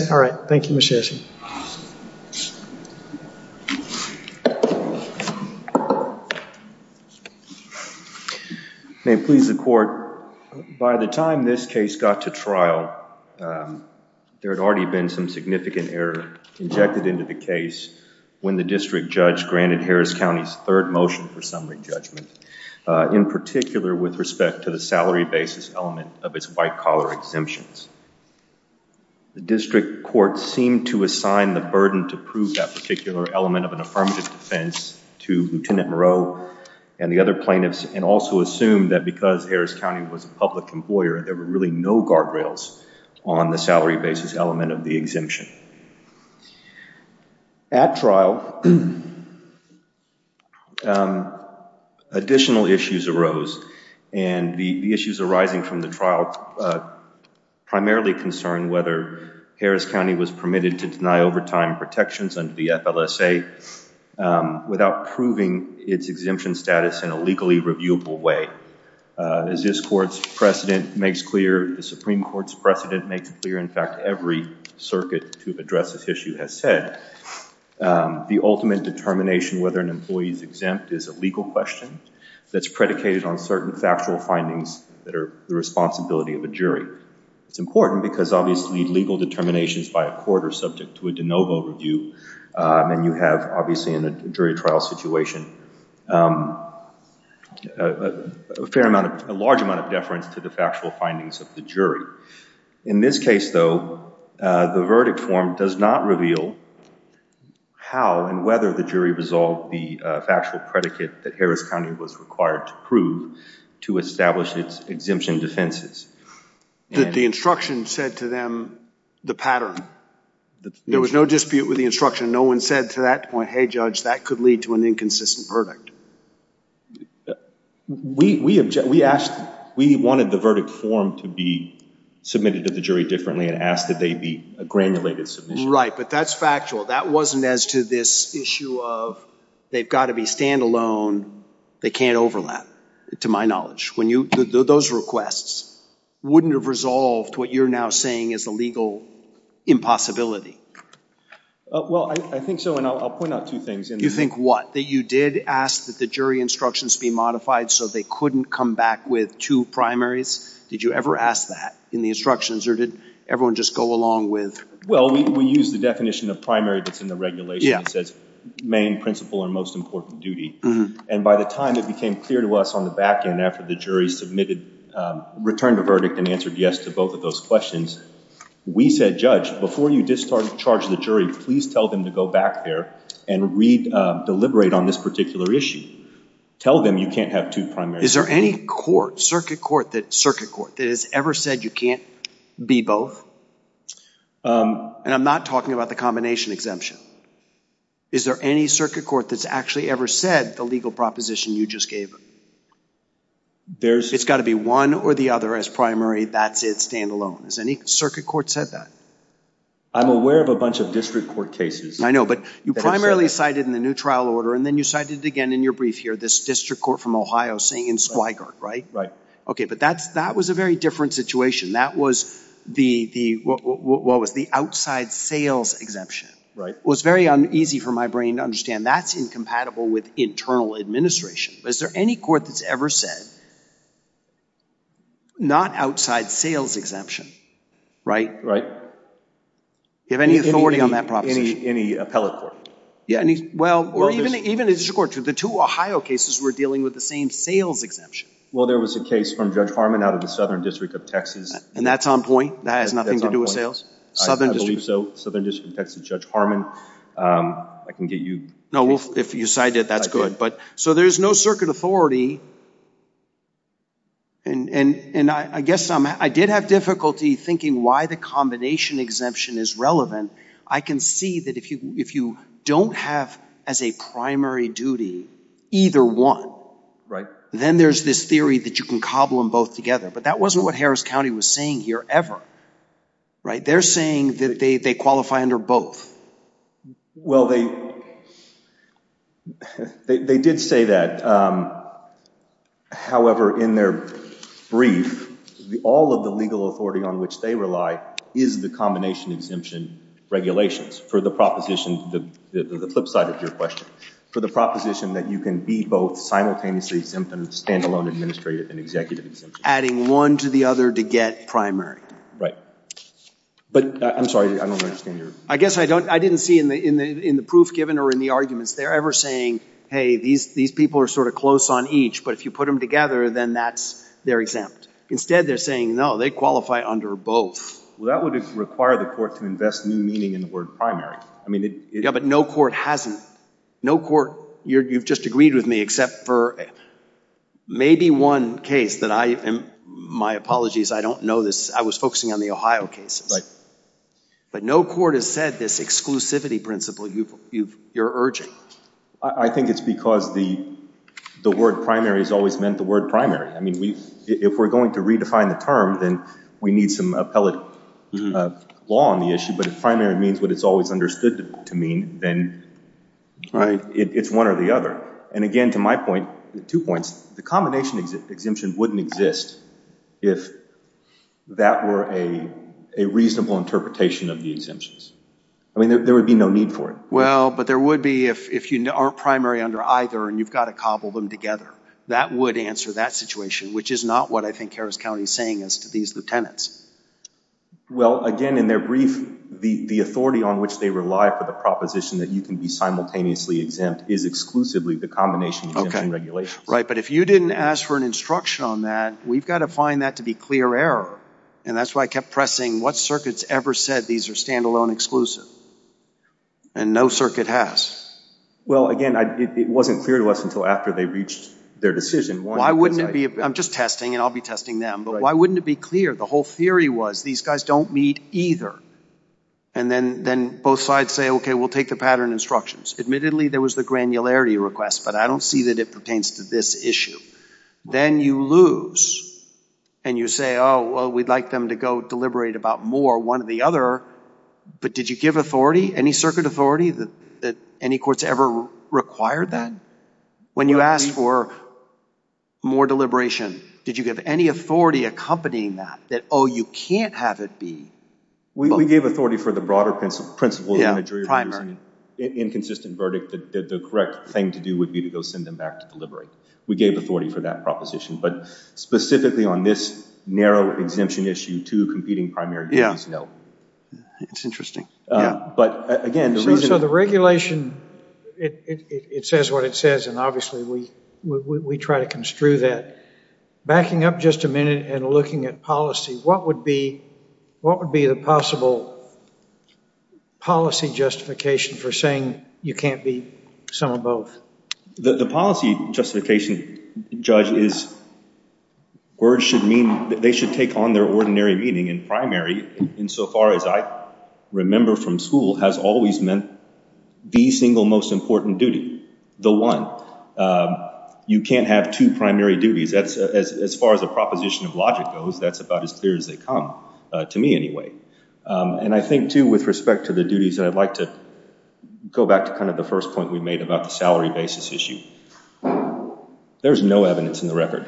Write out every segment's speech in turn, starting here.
By the time this case got to trial, there had already been some significant error injected into the case when the district judge granted Harris County's third motion for summary judgment, in particular with respect to the salary basis element of its white collar exemptions. The district court seemed to assign the burden to prove that particular element of an affirmative defense to Lt. Moreau and the other plaintiffs, and also assumed that because Harris County was a public employer, there were really no guardrails on the salary basis element of the exemption. At trial, additional issues arose, and the issues arising from the trial primarily concerned whether Harris County was permitted to deny overtime protections under the FLSA without proving its exemption status in a legally reviewable way. As this court's precedent makes clear, the Supreme Court's precedent makes clear, in fact every circuit to address this issue has said, the ultimate determination whether an employee is exempt is a legal question that's predicated on certain factual findings that are the responsibility of a jury. It's important because obviously legal determinations by a court are subject to a de novo review, and you have obviously in a jury trial situation a large amount of deference to the factual findings of the jury. In this case though, the verdict form does not reveal how and whether the jury resolved the factual predicate that Harris County was required to prove to establish its exemption defenses. The instruction said to them the pattern. There was no dispute with the instruction. No one said to that point, hey judge, that could lead to an inconsistent verdict. We wanted the verdict form to be submitted to the jury differently and asked that they be a granulated submission. Right, but that's factual. That wasn't as to this issue of they've got to be standalone, they can't overlap, to my knowledge. Those requests wouldn't have resolved what you're now saying is a legal impossibility. Well, I think so, and I'll point out two things. You think what? That you did ask that the jury instructions be modified so they couldn't come back with two primaries? Did you ever ask that in the instructions, or did everyone just go along with? Well, we used the definition of primary that's in the regulation. It says main, principal, and most important, duty. And by the time it became clear to us on the back end after the jury returned the verdict and answered yes to both of those questions, we said, judge, before you discharge the jury, please tell them to go back there and deliberate on this particular issue. Tell them you can't have two primaries. Is there any circuit court that has ever said you can't be both? And I'm not talking about the combination exemption. Is there any circuit court that's actually ever said the legal proposition you just gave them? It's got to be one or the other as primary, that's it, stand alone. Has any circuit court said that? I'm aware of a bunch of district court cases. I know, but you primarily cited in the new trial order, and then you cited it again in your brief here, this district court from Ohio saying in Squigard, right? Right. Okay, but that was a very different situation. That was the outside sales exemption. Right. Well, it's very easy for my brain to understand that's incompatible with internal administration. Is there any court that's ever said not outside sales exemption, right? Right. Do you have any authority on that proposition? Any appellate court. Yeah, well, or even a district court. The two Ohio cases were dealing with the same sales exemption. Well, there was a case from Judge Harmon out of the Southern District of Texas. And that's on point? That has nothing to do with sales? I believe so. Southern District of Texas, Judge Harmon, I can get you. No, if you cite it, that's good. So there's no circuit authority, and I guess I did have difficulty thinking why the combination exemption is relevant. I can see that if you don't have as a primary duty either one. Right. Then there's this theory that you can cobble them both together. But that wasn't what Harris County was saying here ever. Right? They're saying that they qualify under both. Well, they did say that. However, in their brief, all of the legal authority on which they rely is the combination exemption regulations for the proposition, the flip side of your question, for the proposition that you can be both simultaneously exempt and standalone administrative and executive exemptions. Adding one to the other to get primary. Right. But I'm sorry, I don't understand your— I guess I didn't see in the proof given or in the arguments, they're ever saying, hey, these people are sort of close on each. But if you put them together, then they're exempt. Instead, they're saying, no, they qualify under both. Well, that would require the court to invest new meaning in the word primary. Yeah, but no court hasn't. No court—you've just agreed with me except for maybe one case that I—my apologies, I don't know this. I was focusing on the Ohio cases. Right. But no court has said this exclusivity principle you're urging. I think it's because the word primary has always meant the word primary. I mean, if we're going to redefine the term, then we need some appellate law on the issue. But if primary means what it's always understood to mean, then it's one or the other. And again, to my point, two points, the combination exemption wouldn't exist if that were a reasonable interpretation of the exemptions. I mean, there would be no need for it. Well, but there would be if you aren't primary under either and you've got to cobble them together. That would answer that situation, which is not what I think Harris County is saying as to these lieutenants. Well, again, in their brief, the authority on which they rely for the proposition that you can be simultaneously exempt is exclusively the combination exemption regulations. Right, but if you didn't ask for an instruction on that, we've got to find that to be clear error. And that's why I kept pressing, what circuit's ever said these are stand-alone exclusive? And no circuit has. Well, again, it wasn't clear to us until after they reached their decision. I'm just testing, and I'll be testing them. But why wouldn't it be clear? The whole theory was these guys don't meet either. And then both sides say, OK, we'll take the pattern instructions. Admittedly, there was the granularity request, but I don't see that it pertains to this issue. Then you lose, and you say, oh, well, we'd like them to go deliberate about more, one or the other. But did you give authority, any circuit authority that any courts ever required that? When you asked for more deliberation, did you give any authority accompanying that? That, oh, you can't have it be. We gave authority for the broader principle of imagery. Inconsistent verdict that the correct thing to do would be to go send them back to deliberate. We gave authority for that proposition. But specifically on this narrow exemption issue, two competing primary duties, no. Yeah, it's interesting. So the regulation, it says what it says, and obviously we try to construe that. Backing up just a minute and looking at policy, what would be the possible policy justification for saying you can't be some or both? The policy justification, Judge, is words should mean they should take on their ordinary meaning in primary insofar as I remember from school has always meant the single most important duty, the one. You can't have two primary duties. As far as a proposition of logic goes, that's about as clear as they come, to me anyway. And I think, too, with respect to the duties, I'd like to go back to kind of the first point we made about the salary basis issue. There's no evidence in the record,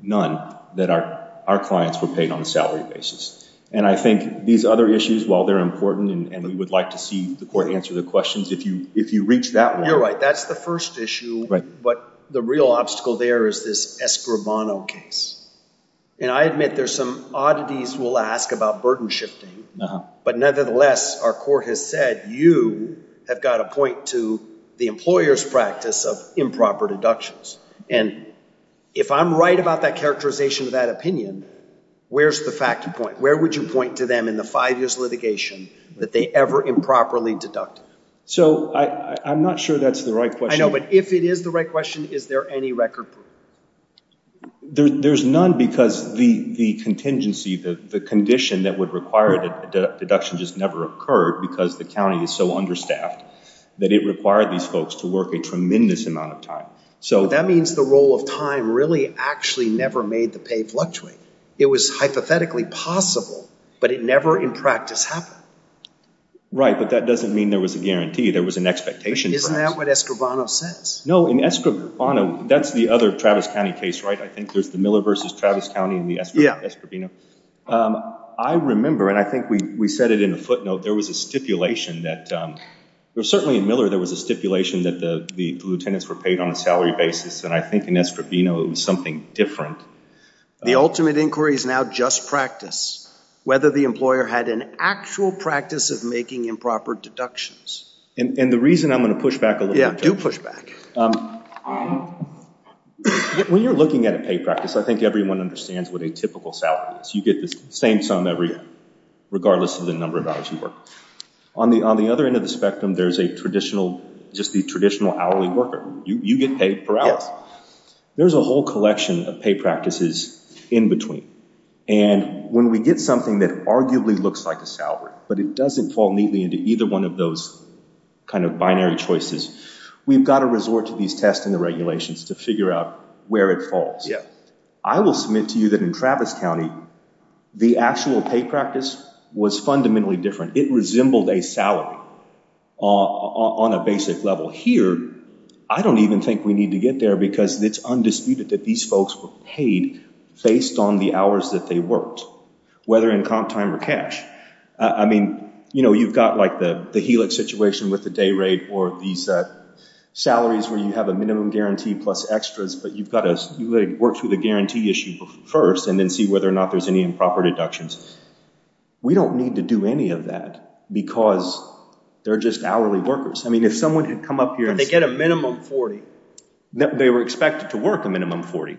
none, that our clients were paid on a salary basis. And I think these other issues, while they're important and we would like to see the court answer the questions, if you reach that one. You're right. That's the first issue. But the real obstacle there is this Escribano case. And I admit there's some oddities we'll ask about burden shifting. But nevertheless, our court has said you have got to point to the employer's practice of improper deductions. And if I'm right about that characterization of that opinion, where's the fact you point? Where would you point to them in the five years litigation that they ever improperly deducted? So I'm not sure that's the right question. I know, but if it is the right question, is there any record proof? There's none because the contingency, the condition that would require a deduction just never occurred because the county is so understaffed that it required these folks to work a tremendous amount of time. That means the role of time really actually never made the pay fluctuate. It was hypothetically possible, but it never in practice happened. Right, but that doesn't mean there was a guarantee. There was an expectation. Isn't that what Escribano says? No, in Escribano, that's the other Travis County case, right? I think there's the Miller versus Travis County and the Escribano. I remember, and I think we said it in a footnote, there was a stipulation that certainly in Miller there was a stipulation that the lieutenants were paid on a salary basis. And I think in Escribano it was something different. The ultimate inquiry is now just practice, whether the employer had an actual practice of making improper deductions. And the reason I'm going to push back a little bit. Yeah, do push back. When you're looking at a pay practice, I think everyone understands what a typical salary is. You get the same sum every year, regardless of the number of hours you work. On the other end of the spectrum, there's a traditional, just the traditional hourly worker. You get paid per hour. Yes. There's a whole collection of pay practices in between. And when we get something that arguably looks like a salary, but it doesn't fall neatly into either one of those kind of binary choices, we've got to resort to these tests and the regulations to figure out where it falls. Yeah. I will submit to you that in Travis County, the actual pay practice was fundamentally different. It resembled a salary on a basic level. Here, I don't even think we need to get there because it's undisputed that these folks were paid based on the hours that they worked, whether in comp time or cash. I mean, you've got like the helix situation with the day rate or these salaries where you have a minimum guarantee plus extras, but you've got to work through the guarantee issue first and then see whether or not there's any improper deductions. We don't need to do any of that because they're just hourly workers. I mean, if someone had come up here and— But they get a minimum 40. They were expected to work a minimum 40.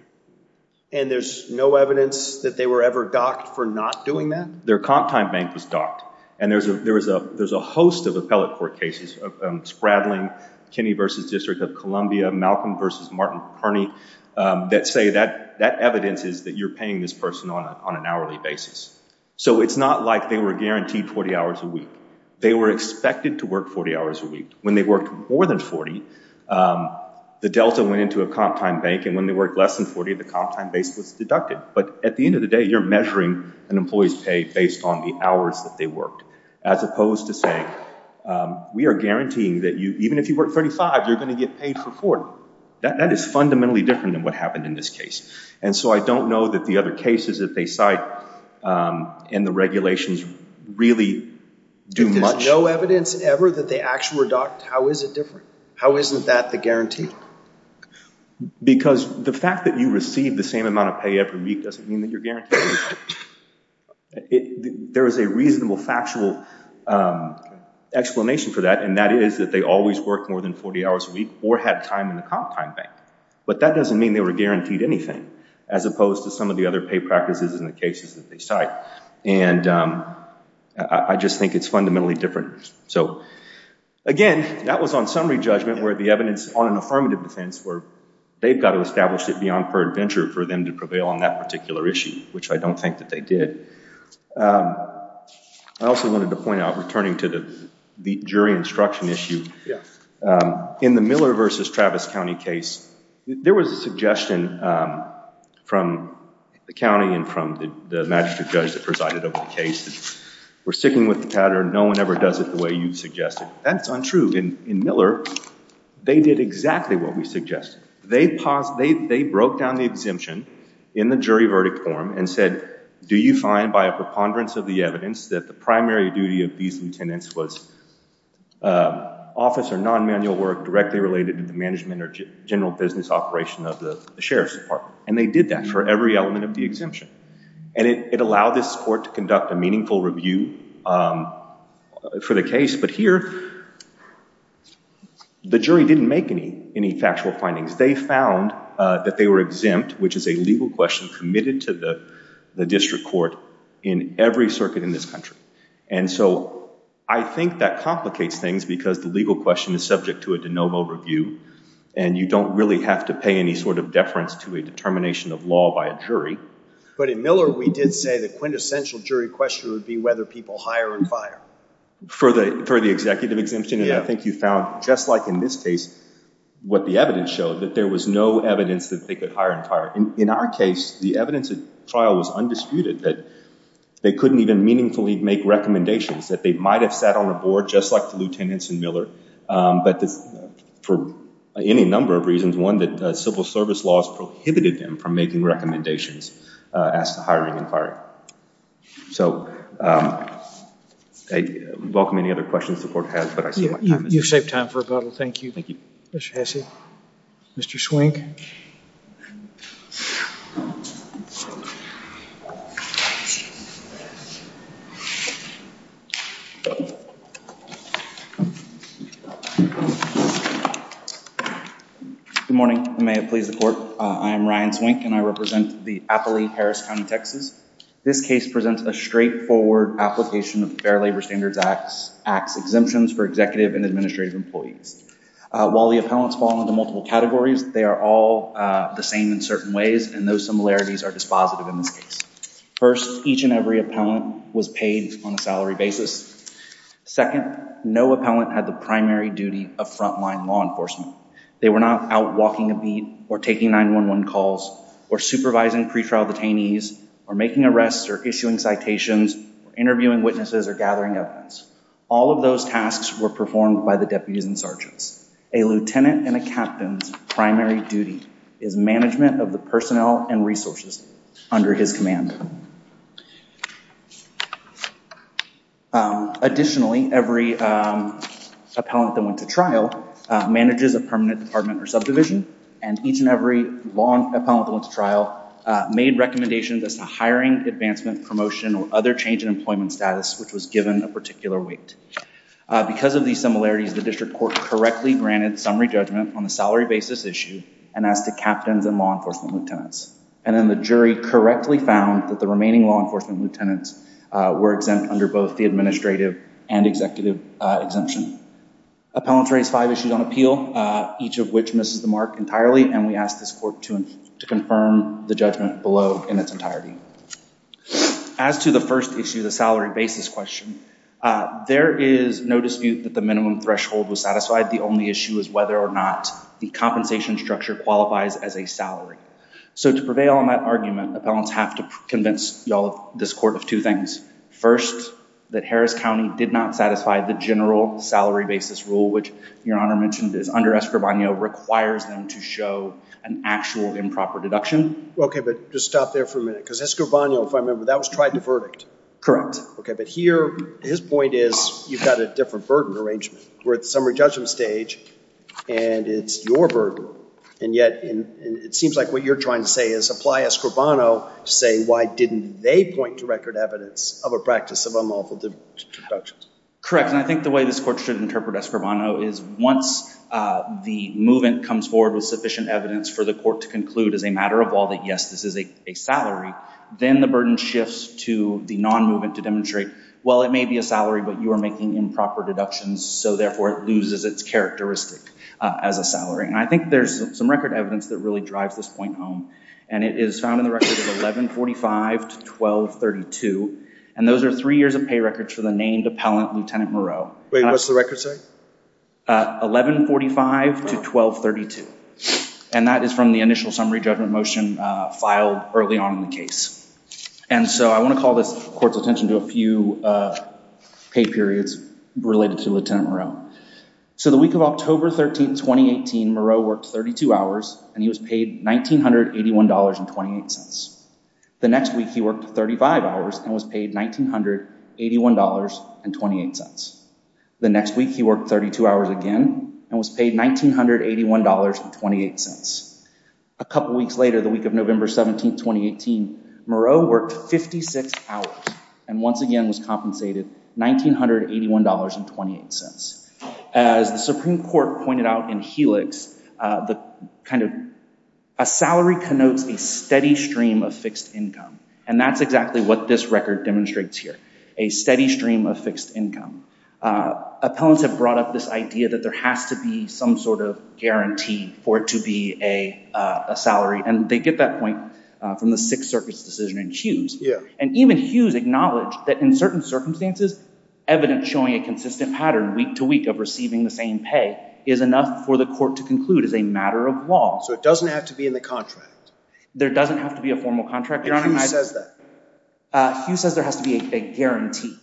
And there's no evidence that they were ever docked for not doing that? Their comp time bank was docked. And there's a host of appellate court cases, Spradling, Kinney v. District of Columbia, Malcolm v. Martin Kearney, that say that evidence is that you're paying this person on an hourly basis. So it's not like they were guaranteed 40 hours a week. They were expected to work 40 hours a week. When they worked more than 40, the delta went into a comp time bank, and when they worked less than 40, the comp time base was deducted. But at the end of the day, you're measuring an employee's pay based on the hours that they worked as opposed to saying we are guaranteeing that even if you work 35, you're going to get paid for 40. That is fundamentally different than what happened in this case. And so I don't know that the other cases that they cite in the regulations really do much— If there's no evidence ever that they actually were docked, how is it different? How isn't that the guarantee? Because the fact that you receive the same amount of pay every week doesn't mean that you're guaranteed. There is a reasonable factual explanation for that, and that is that they always worked more than 40 hours a week or had time in the comp time bank. But that doesn't mean they were guaranteed anything as opposed to some of the other pay practices in the cases that they cite. And I just think it's fundamentally different. So, again, that was on summary judgment where the evidence on an affirmative defense where they've got to establish it beyond per adventure for them to prevail on that particular issue, which I don't think that they did. I also wanted to point out, returning to the jury instruction issue, in the Miller v. Travis County case, there was a suggestion from the county and from the magistrate judge that presided over the case. We're sticking with the pattern. No one ever does it the way you suggested. That's untrue. In Miller, they did exactly what we suggested. They broke down the exemption in the jury verdict form and said, do you find by a preponderance of the evidence that the primary duty of these lieutenants was office or non-manual work directly related to the management or general business operation of the sheriff's department? And they did that for every element of the exemption. And it allowed this court to conduct a meaningful review for the case. But here, the jury didn't make any factual findings. They found that they were exempt, which is a legal question committed to the district court in every circuit in this country. And so I think that complicates things because the legal question is subject to a de novo review. And you don't really have to pay any sort of deference to a determination of law by a jury. But in Miller, we did say the quintessential jury question would be whether people hire and fire. For the executive exemption? Yeah. And I think you found, just like in this case, what the evidence showed, that there was no evidence that they could hire and fire. In our case, the evidence at trial was undisputed, that they couldn't even meaningfully make recommendations, that they might have sat on a board just like the lieutenants in Miller. But for any number of reasons, one, that civil service laws prohibited them from making recommendations as to hiring and firing. So I welcome any other questions the court has. But I see my time is up. You've saved time for a couple. Thank you. Thank you. Mr. Hesse? Mr. Swink? Thank you. Good morning. May it please the court. I am Ryan Swink, and I represent the Appley, Harris County, Texas. This case presents a straightforward application of the Fair Labor Standards Act's exemptions for executive and administrative employees. While the appellants fall into multiple categories, they are all the same in certain ways, and those similarities are dispositive in this case. First, each and every appellant was paid on a salary basis. Second, no appellant had the primary duty of frontline law enforcement. They were not out walking a beat or taking 911 calls or supervising pretrial detainees or making arrests or issuing citations or interviewing witnesses or gathering evidence. All of those tasks were performed by the deputies and sergeants. A lieutenant and a captain's primary duty is management of the personnel and resources under his command. Additionally, every appellant that went to trial manages a permanent department or subdivision, and each and every appellant that went to trial made recommendations as to hiring, advancement, promotion, or other change in employment status which was given a particular weight. Because of these similarities, the district court correctly granted summary judgment on the salary basis issue and asked the captains and law enforcement lieutenants. And then the jury correctly found that the remaining law enforcement lieutenants were exempt under both the administrative and executive exemption. Appellants raised five issues on appeal, each of which misses the mark entirely, and we asked this court to confirm the judgment below in its entirety. As to the first issue, the salary basis question, there is no dispute that the minimum threshold was satisfied. The only issue is whether or not the compensation structure qualifies as a salary. So to prevail on that argument, appellants have to convince this court of two things. First, that Harris County did not satisfy the general salary basis rule, which Your Honor mentioned is under Escribano, requires them to show an actual improper deduction. Okay, but just stop there for a minute, because Escribano, if I remember, that was tried to verdict. Correct. Okay, but here his point is you've got a different burden arrangement. We're at the summary judgment stage, and it's your burden. And yet it seems like what you're trying to say is apply Escribano to say why didn't they point to record evidence of a practice of unlawful deductions. Correct, and I think the way this court should interpret Escribano is once the movement comes forward with sufficient evidence for the court to conclude as a matter of law that, yes, this is a salary, then the burden shifts to the non-movement to demonstrate, well, it may be a salary, but you are making improper deductions, so therefore it loses its characteristic as a salary. And I think there's some record evidence that really drives this point home, and it is found in the record of 1145 to 1232, and those are three years of pay records for the named appellant, Lieutenant Moreau. Wait, what's the record say? 1145 to 1232, and that is from the initial summary judgment motion filed early on in the case. And so I want to call this court's attention to a few pay periods related to Lieutenant Moreau. So the week of October 13, 2018, Moreau worked 32 hours, and he was paid $1,981.28. The next week he worked 35 hours and was paid $1,981.28. The next week he worked 32 hours again and was paid $1,981.28. A couple weeks later, the week of November 17, 2018, Moreau worked 56 hours and once again was compensated $1,981.28. As the Supreme Court pointed out in Helix, a salary connotes a steady stream of fixed income, and that's exactly what this record demonstrates here, a steady stream of fixed income. Appellants have brought up this idea that there has to be some sort of guarantee for it to be a salary, and they get that point from the Sixth Circuit's decision in Hughes. And even Hughes acknowledged that in certain circumstances, evidence showing a consistent pattern week to week of receiving the same pay is enough for the court to conclude as a matter of law. So it doesn't have to be in the contract? There doesn't have to be a formal contract. And Hughes says that? Hughes says there has to be a guarantee.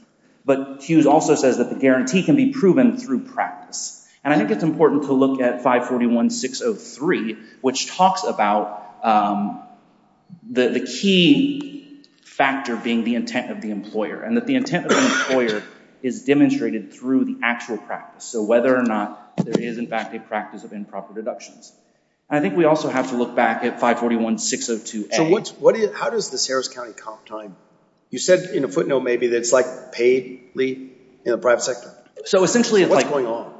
But Hughes also says that the guarantee can be proven through practice. And I think it's important to look at 541-603, which talks about the key factor being the intent of the employer, and that the intent of the employer is demonstrated through the actual practice. So whether or not there is, in fact, a practice of improper deductions. And I think we also have to look back at 541-602A. So how does this Harris County comp time? You said in a footnote maybe that it's like paid leave in the private sector. So essentially it's like— What's going on?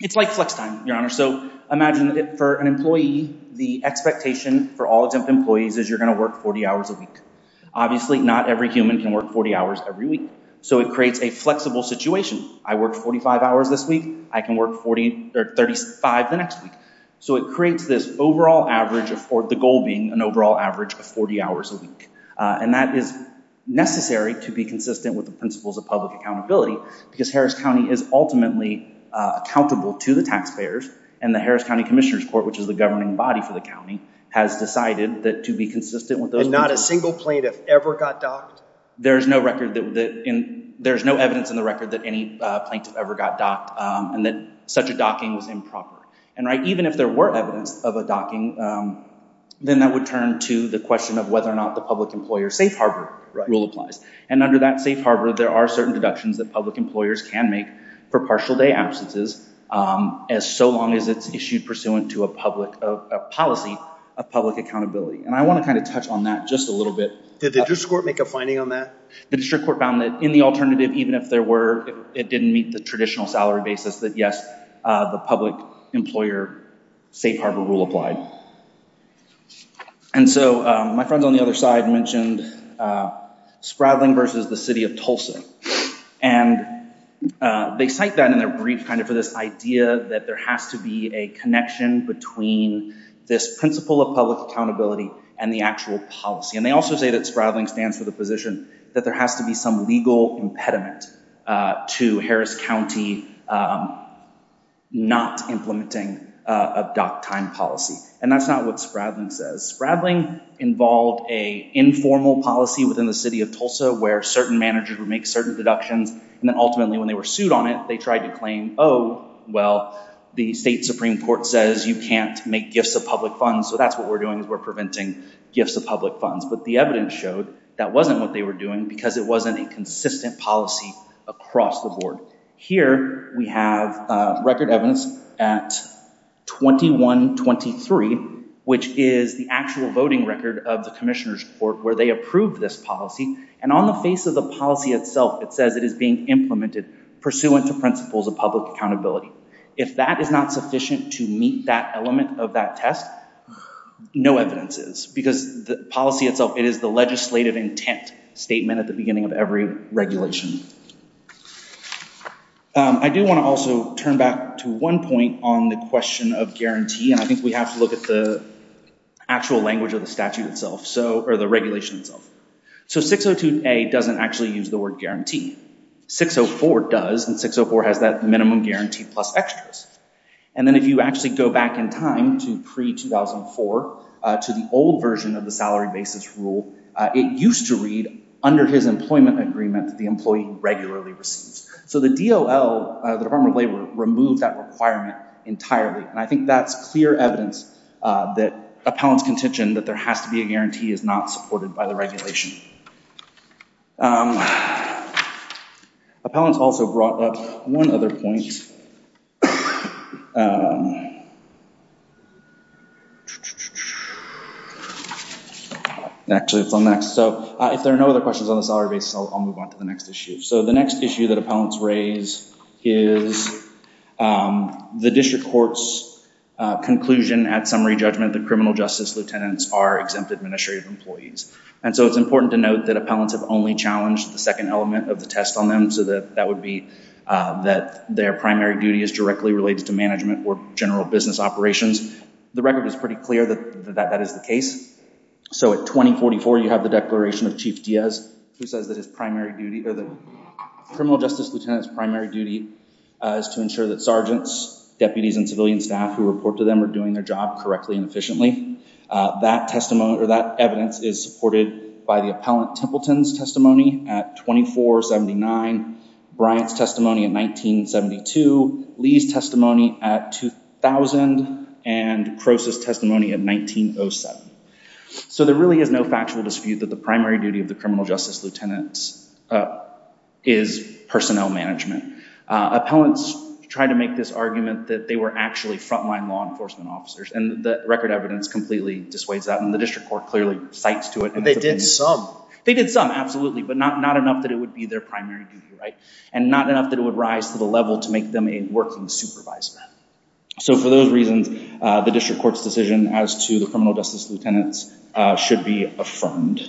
It's like flex time, Your Honor. So imagine for an employee, the expectation for all exempt employees is you're going to work 40 hours a week. Obviously, not every human can work 40 hours every week. So it creates a flexible situation. I work 45 hours this week. I can work 35 the next week. So it creates this overall average of—the goal being an overall average of 40 hours a week. And that is necessary to be consistent with the principles of public accountability because Harris County is ultimately accountable to the taxpayers. And the Harris County Commissioner's Court, which is the governing body for the county, has decided that to be consistent with those principles— And not a single plaintiff ever got docked? There is no record that—there is no evidence in the record that any plaintiff ever got docked and that such a docking was improper. And even if there were evidence of a docking, then that would turn to the question of whether or not the public employer safe harbor rule applies. And under that safe harbor, there are certain deductions that public employers can make for partial day absences as so long as it's issued pursuant to a policy of public accountability. And I want to kind of touch on that just a little bit. Did the district court make a finding on that? The district court found that in the alternative, even if there were—it didn't meet the traditional salary basis, that yes, the public employer safe harbor rule applied. And so my friends on the other side mentioned Spradling versus the City of Tulsa. And they cite that in their brief kind of for this idea that there has to be a connection between this principle of public accountability and the actual policy. And they also say that Spradling stands for the position that there has to be some legal impediment to Harris County not implementing a docked time policy. And that's not what Spradling says. Spradling involved an informal policy within the City of Tulsa where certain managers would make certain deductions. And then ultimately when they were sued on it, they tried to claim, oh, well, the state supreme court says you can't make gifts of public funds. So that's what we're doing is we're preventing gifts of public funds. But the evidence showed that wasn't what they were doing because it wasn't a consistent policy across the board. Here we have record evidence at 2123, which is the actual voting record of the commissioner's court where they approved this policy. And on the face of the policy itself, it says it is being implemented pursuant to principles of public accountability. If that is not sufficient to meet that element of that test, no evidence is. Because the policy itself, it is the legislative intent statement at the beginning of every regulation. I do want to also turn back to one point on the question of guarantee. And I think we have to look at the actual language of the statute itself or the regulation itself. So 602A doesn't actually use the word guarantee. 604 does, and 604 has that minimum guarantee plus extras. And then if you actually go back in time to pre-2004 to the old version of the salary basis rule, it used to read under his employment agreement that the employee regularly receives. So the DOL, the Department of Labor, removed that requirement entirely. And I think that's clear evidence that appellant's contention that there has to be a guarantee is not supported by the regulation. Appellants also brought up one other point. Actually, it's on the next. So if there are no other questions on the salary basis, I'll move on to the next issue. So the next issue that appellants raise is the district court's conclusion at summary judgment that criminal justice lieutenants are exempt administrative employees. And so it's important to note that appellants have only challenged the second element of the test on them. So that would be that their primary duty is directly related to management or general business operations. The record is pretty clear that that is the case. So at 2044, you have the declaration of Chief Diaz, who says that his primary duty or the criminal justice lieutenant's primary duty is to ensure that sergeants, deputies, and civilian staff who report to them are doing their job correctly and efficiently. That evidence is supported by the appellant Templeton's testimony at 2479, Bryant's testimony at 1972, Lee's testimony at 2000, and Crose's testimony at 1907. So there really is no factual dispute that the primary duty of the criminal justice lieutenant is personnel management. Appellants tried to make this argument that they were actually frontline law enforcement officers, and the record evidence completely dissuades that, and the district court clearly cites to it. But they did some. They did some, absolutely, but not enough that it would be their primary duty, right? And not enough that it would rise to the level to make them a working supervisor. So for those reasons, the district court's decision as to the criminal justice lieutenants should be affirmed.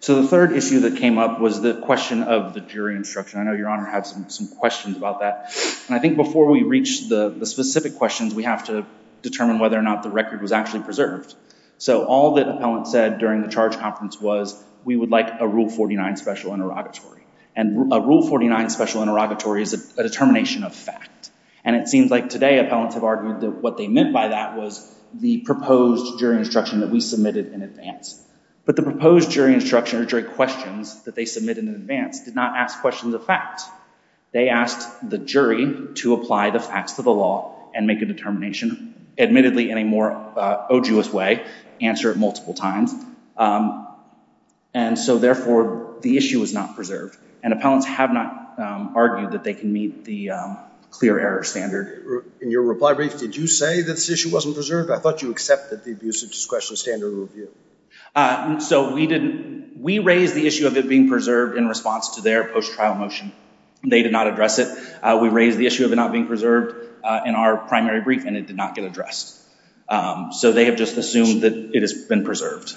So the third issue that came up was the question of the jury instruction. I know Your Honor has some questions about that. And I think before we reach the specific questions, we have to determine whether or not the record was actually preserved. So all that appellants said during the charge conference was, we would like a Rule 49 special interrogatory. And a Rule 49 special interrogatory is a determination of fact. And it seems like today appellants have argued that what they meant by that was the proposed jury instruction that we submitted in advance. But the proposed jury instruction or jury questions that they submitted in advance did not ask questions of fact. They asked the jury to apply the facts to the law and make a determination, admittedly, in a more odious way, answer it multiple times. And so therefore, the issue was not preserved. And appellants have not argued that they can meet the clear error standard. In your reply brief, did you say that this issue wasn't preserved? I thought you accepted the abuse of discretion standard review. So we raised the issue of it being preserved in response to their post-trial motion. They did not address it. We raised the issue of it not being preserved in our primary brief, and it did not get addressed. So they have just assumed that it has been preserved.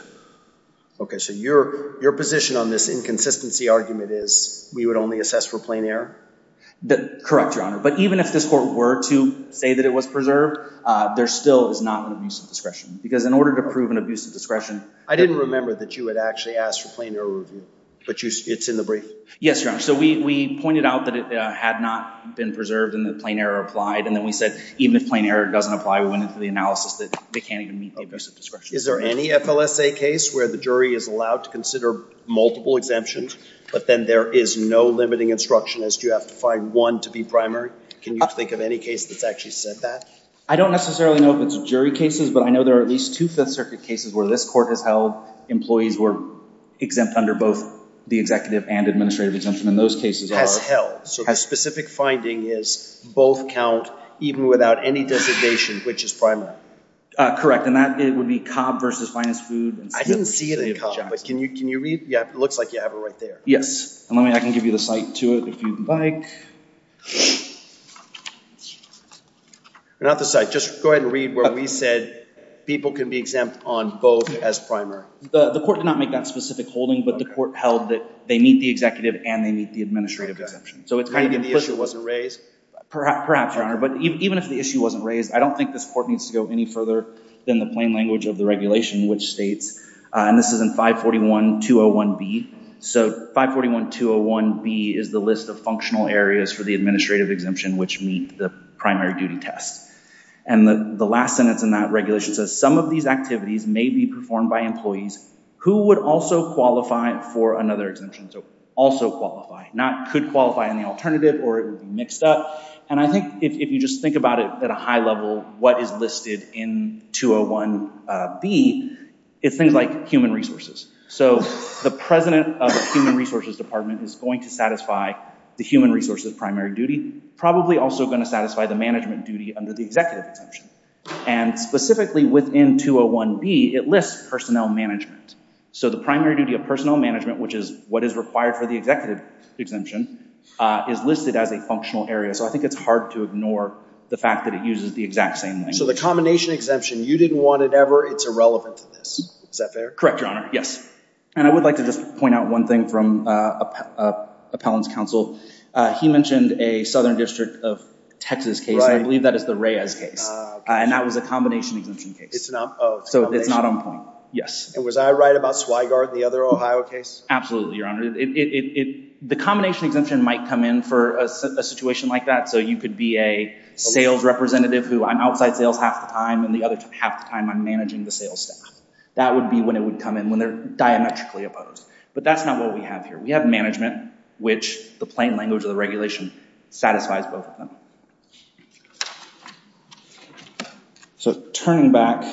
OK, so your position on this inconsistency argument is we would only assess for plain error? Correct, Your Honor. But even if this court were to say that it was preserved, there still is not an abuse of discretion. Because in order to prove an abuse of discretion— I didn't remember that you had actually asked for plain error review. But it's in the brief? Yes, Your Honor. So we pointed out that it had not been preserved and that plain error applied. And then we said even if plain error doesn't apply, we went into the analysis that they can't even meet the abuse of discretion. Is there any FLSA case where the jury is allowed to consider multiple exemptions, but then there is no limiting instruction as to you have to find one to be primary? Can you think of any case that's actually said that? I don't necessarily know if it's jury cases, but I know there are at least two Fifth Circuit cases where this court has held employees were exempt under both the executive and administrative exemption. And those cases are— Has held. So the specific finding is both count, even without any designation, which is primary. Correct. And that would be Cobb v. Finest Food. I didn't see it in Cobb, but can you read—it looks like you have it right there. Yes. And let me—I can give you the cite to it if you'd like. Not the cite. Just go ahead and read where we said people can be exempt on both as primary. The court did not make that specific holding, but the court held that they meet the executive and they meet the administrative exemption. So it's kind of implicit. Even if the issue wasn't raised? I don't think this court needs to go any further than the plain language of the regulation, which states—and this is in 541-201B. So 541-201B is the list of functional areas for the administrative exemption, which meet the primary duty test. And the last sentence in that regulation says, Some of these activities may be performed by employees who would also qualify for another exemption. So also qualify, not could qualify in the alternative or it would be mixed up. And I think if you just think about it at a high level, what is listed in 201B is things like human resources. So the president of the human resources department is going to satisfy the human resources primary duty, probably also going to satisfy the management duty under the executive exemption. And specifically within 201B, it lists personnel management. So the primary duty of personnel management, which is what is required for the executive exemption, is listed as a functional area. So I think it's hard to ignore the fact that it uses the exact same language. So the combination exemption, you didn't want it ever. It's irrelevant to this. Is that fair? Correct, Your Honor. Yes. And I would like to just point out one thing from appellant's counsel. He mentioned a southern district of Texas case, and I believe that is the Reyes case. And that was a combination exemption case. So it's not on point. Yes. And was I right about Swigart, the other Ohio case? Absolutely, Your Honor. The combination exemption might come in for a situation like that. So you could be a sales representative who I'm outside sales half the time, and the other half the time I'm managing the sales staff. That would be when it would come in, when they're diametrically opposed. But that's not what we have here. We have management, which the plain language of the regulation satisfies both of them. So turning back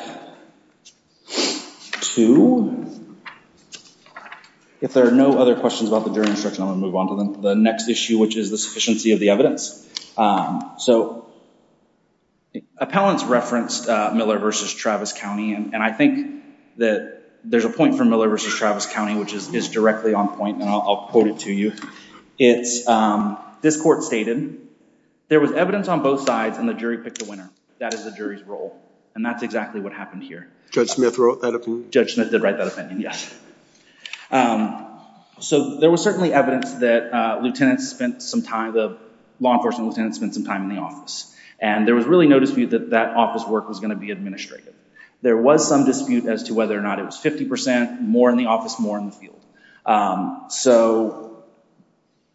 to, if there are no other questions about the jury instruction, I'm going to move on to the next issue, which is the sufficiency of the evidence. So appellant's referenced Miller v. Travis County, and I think that there's a point from Miller v. Travis County, which is directly on point, and I'll quote it to you. This court stated, there was evidence on both sides, and the jury picked the winner. That is the jury's role, and that's exactly what happened here. Judge Smith wrote that opinion? Judge Smith did write that opinion, yes. So there was certainly evidence that the law enforcement lieutenant spent some time in the office, and there was really no dispute that that office work was going to be administrative. There was some dispute as to whether or not it was 50%, more in the office, more in the field. So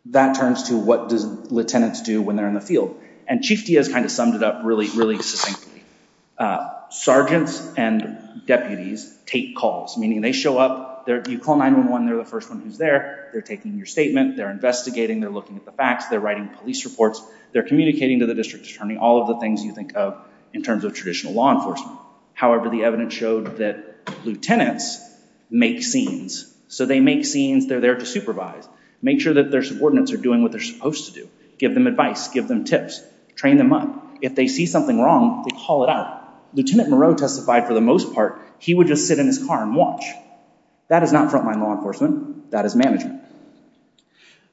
that turns to, what do lieutenants do when they're in the field? And Chief Diaz kind of summed it up really, really succinctly. Sergeants and deputies take calls, meaning they show up. You call 911, they're the first one who's there. They're taking your statement. They're investigating. They're looking at the facts. They're writing police reports. They're communicating to the district attorney, all of the things you think of in terms of traditional law enforcement. However, the evidence showed that lieutenants make scenes. So they make scenes. They're there to supervise. Make sure that their subordinates are doing what they're supposed to do. Give them advice. Give them tips. Train them up. If they see something wrong, they call it out. Lieutenant Moreau testified, for the most part, he would just sit in his car and watch. That is not frontline law enforcement. That is management.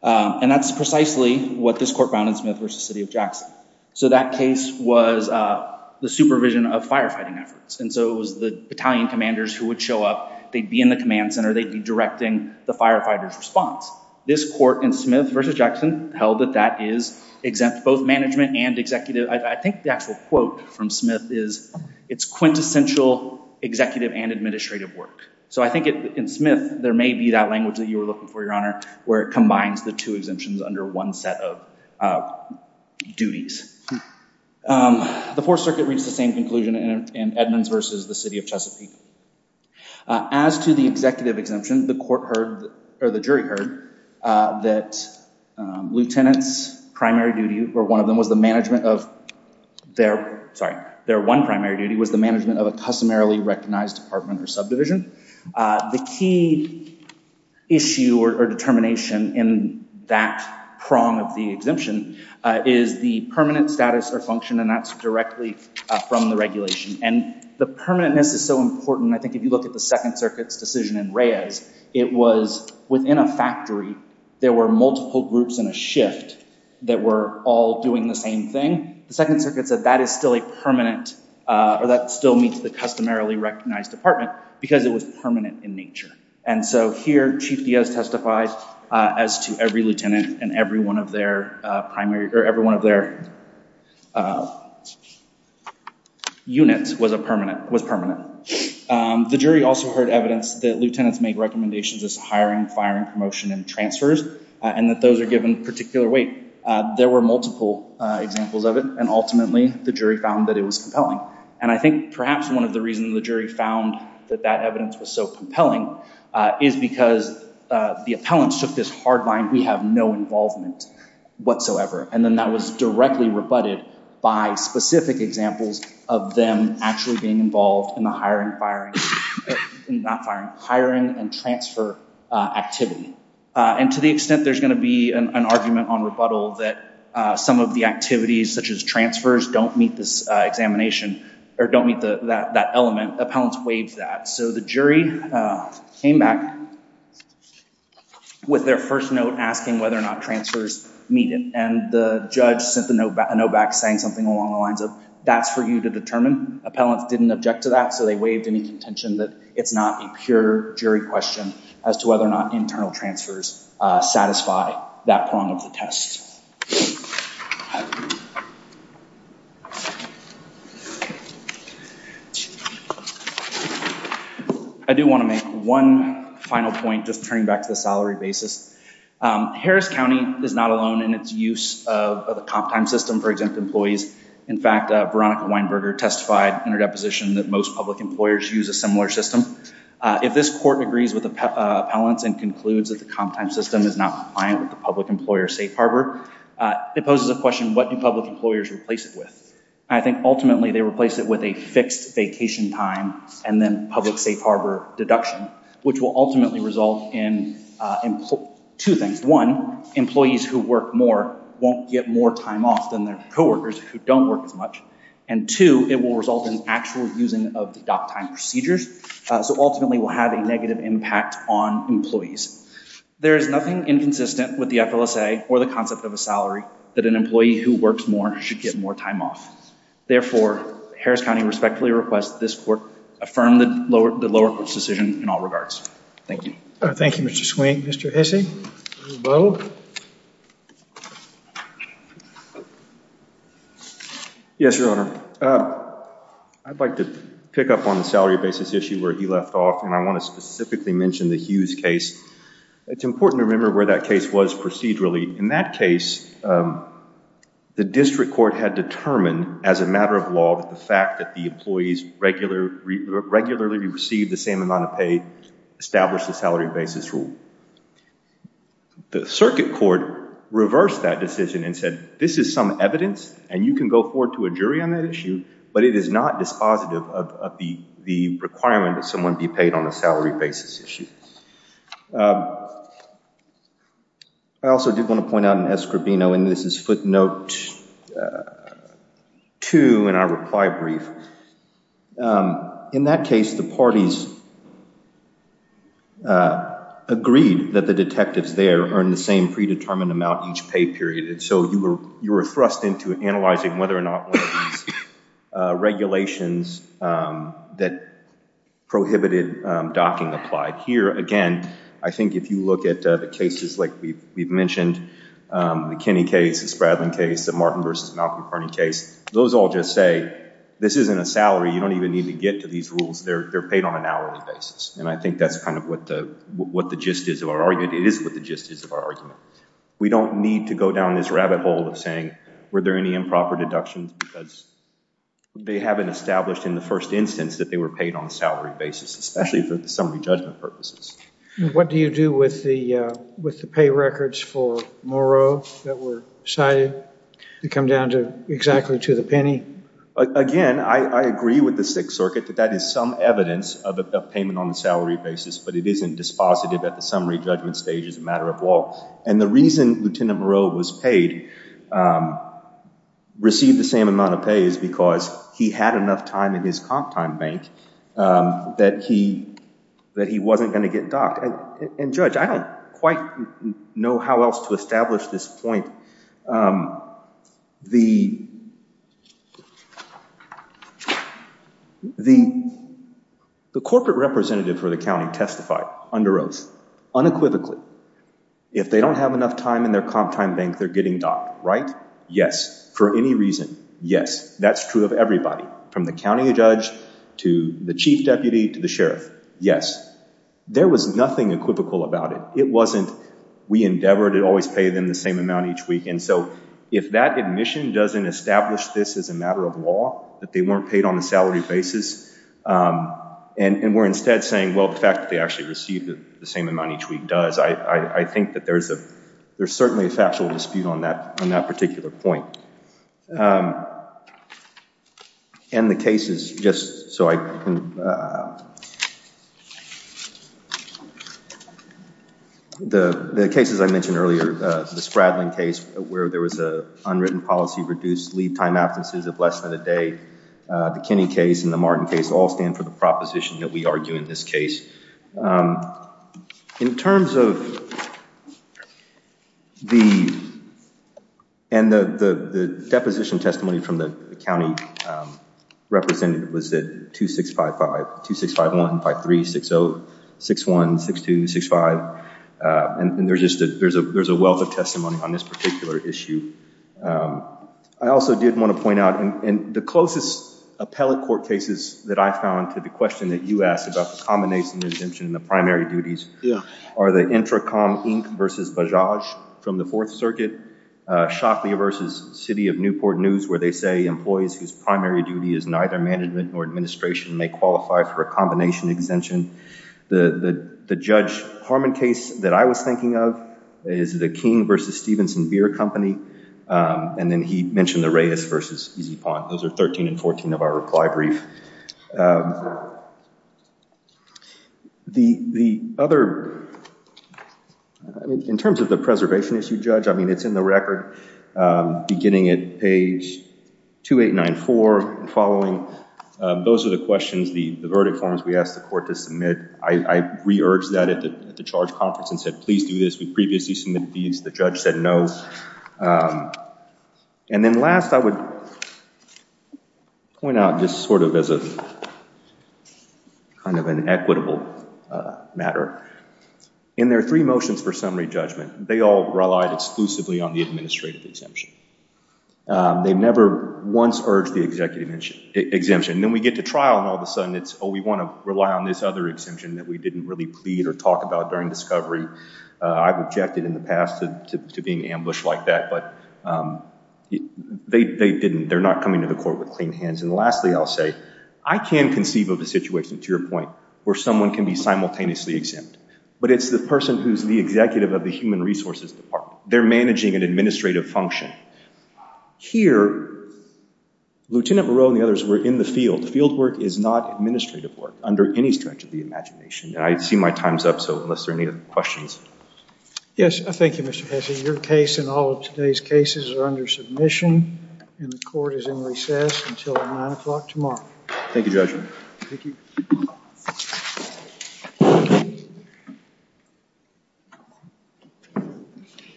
And that's precisely what this court found in Smith v. City of Jackson. So that case was the supervision of firefighting efforts. And so it was the battalion commanders who would show up. They'd be in the command center. They'd be directing the firefighters' response. This court in Smith v. Jackson held that that is exempt both management and executive. I think the actual quote from Smith is, it's quintessential executive and administrative work. So I think in Smith, there may be that language that you were looking for, Your Honor, where it combines the two exemptions under one set of duties. The Fourth Circuit reached the same conclusion in Edmonds v. The City of Chesapeake. As to the executive exemption, the jury heard that lieutenants' primary duty, or one of them, The key issue or determination in that prong of the exemption is the permanent status or function, and that's directly from the regulation. And the permanentness is so important. I think if you look at the Second Circuit's decision in Reyes, it was within a factory. There were multiple groups in a shift that were all doing the same thing. The Second Circuit said that is still a permanent, or that still meets the customarily recognized department because it was permanent in nature. And so here, Chief Diaz testified as to every lieutenant and every one of their units was permanent. The jury also heard evidence that lieutenants make recommendations as hiring, firing, promotion, and transfers, and that those are given particular weight. There were multiple examples of it, and ultimately, the jury found that it was compelling. And I think perhaps one of the reasons the jury found that that evidence was so compelling is because the appellants took this hard line, we have no involvement whatsoever, and then that was directly rebutted by specific examples of them actually being involved in the hiring, firing, not firing, hiring and transfer activity. And to the extent there's going to be an argument on rebuttal that some of the activities, such as transfers, don't meet this examination, or don't meet that element, appellants waived that. So the jury came back with their first note asking whether or not transfers meet it, and the judge sent a note back saying something along the lines of, that's for you to determine. Appellants didn't object to that, so they waived any contention that it's not a pure jury question as to whether or not internal transfers satisfy that prong of the test. I do want to make one final point, just turning back to the salary basis. Harris County is not alone in its use of the comp time system for exempt employees. In fact, Veronica Weinberger testified in her deposition that most public employers use a similar system. If this court agrees with the appellants and concludes that the comp time system is not compliant with the public employer safe harbor, it poses a question, what do public employers replace it with? I think ultimately they replace it with a fixed vacation time and then public safe harbor deduction, which will ultimately result in two things. One, employees who work more won't get more time off than their co-workers who don't work as much. And two, it will result in actual using of the dock time procedures. So ultimately we'll have a negative impact on employees. There is nothing inconsistent with the FLSA or the concept of a salary that an employee who works more should get more time off. Therefore, Harris County respectfully requests this court affirm the lower court's decision in all regards. Thank you. Thank you, Mr. Swink. Mr. Hesse? Mr. Bowe? Yes, Your Honor. I'd like to pick up on the salary basis issue where he left off, and I want to specifically mention the Hughes case. It's important to remember where that case was procedurally. In that case, the district court had determined as a matter of law that the fact that the employees regularly receive the same amount of pay established the salary basis rule. The circuit court reversed that decision and said this is some evidence, and you can go forward to a jury on that issue, but it is not dispositive of the requirement that someone be paid on a salary basis issue. I also did want to point out in Escribino, and this is footnote 2 in our reply brief. In that case, the parties agreed that the detectives there earned the same predetermined amount each pay period, and so you were thrust into analyzing whether or not one of these regulations that prohibited docking applied. Here, again, I think if you look at the cases like we've mentioned, the Kinney case, the Spradlin case, the Martin v. Malcolm Carney case, those all just say this isn't a salary. You don't even need to get to these rules. They're paid on an hourly basis, and I think that's kind of what the gist is of our argument. It is what the gist is of our argument. We don't need to go down this rabbit hole of saying were there any improper deductions because they haven't established in the first instance that they were paid on a salary basis, especially for the summary judgment purposes. What do you do with the pay records for Moreau that were cited to come down to exactly to the penny? Again, I agree with the Sixth Circuit that that is some evidence of payment on a salary basis, but it isn't dispositive at the summary judgment stage as a matter of law. And the reason Lieutenant Moreau was paid, received the same amount of pay, is because he had enough time in his comp time bank that he wasn't going to get docked. And, Judge, I don't quite know how else to establish this point. The corporate representative for the county testified under oath unequivocally. If they don't have enough time in their comp time bank, they're getting docked, right? Yes, for any reason, yes. That's true of everybody, from the county judge to the chief deputy to the sheriff, yes. There was nothing equivocal about it. It wasn't we endeavor to always pay them the same amount each week. And so if that admission doesn't establish this as a matter of law, that they weren't paid on a salary basis, and we're instead saying, well, the fact that they actually received the same amount each week does, I think that there's certainly a factual dispute on that particular point. And the cases, just so I can, the cases I mentioned earlier, the Spradling case, where there was an unwritten policy reduced leave time absences of less than a day, the Kinney case and the Martin case all stand for the proposition that we argue in this case. In terms of the, and the deposition testimony from the county represented was that 2655, 2651, 53, 60, 61, 62, 65, and there's a wealth of testimony on this particular issue. I also did want to point out, in the closest appellate court cases that I found to the question that you asked about the combination exemption in the primary duties are the Intracom Inc. versus Bajaj from the Fourth Circuit, Shockley versus City of Newport News, where they say employees whose primary duty is neither management nor administration may qualify for a combination exemption. The Judge Harmon case that I was thinking of is the King versus Stevenson Beer Company. And then he mentioned the Reyes versus Easy Pond. Those are 13 and 14 of our reply brief. The other, in terms of the preservation issue, Judge, I mean, it's in the record beginning at page 2894 and following. Those are the questions, the verdict forms we asked the court to submit. I re-urged that at the charge conference and said, please do this. We previously submitted these. The judge said no. And then last, I would point out just sort of as a kind of an equitable matter. In their three motions for summary judgment, they all relied exclusively on the administrative exemption. They never once urged the executive exemption. Then we get to trial and all of a sudden it's, oh, we want to rely on this other exemption that we didn't really plead or talk about during discovery. I've objected in the past to being ambushed like that, but they didn't. They're not coming to the court with clean hands. And lastly, I'll say, I can conceive of a situation, to your point, where someone can be simultaneously exempt. But it's the person who's the executive of the Human Resources Department. They're managing an administrative function. Here, Lieutenant Moreau and the others were in the field. Field work is not administrative work under any stretch of the imagination. And I see my time's up, so unless there are any questions. Yes, thank you, Mr. Pesce. Your case and all of today's cases are under submission. And the court is in recess until 9 o'clock tomorrow. Thank you, Judge. Thank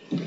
you.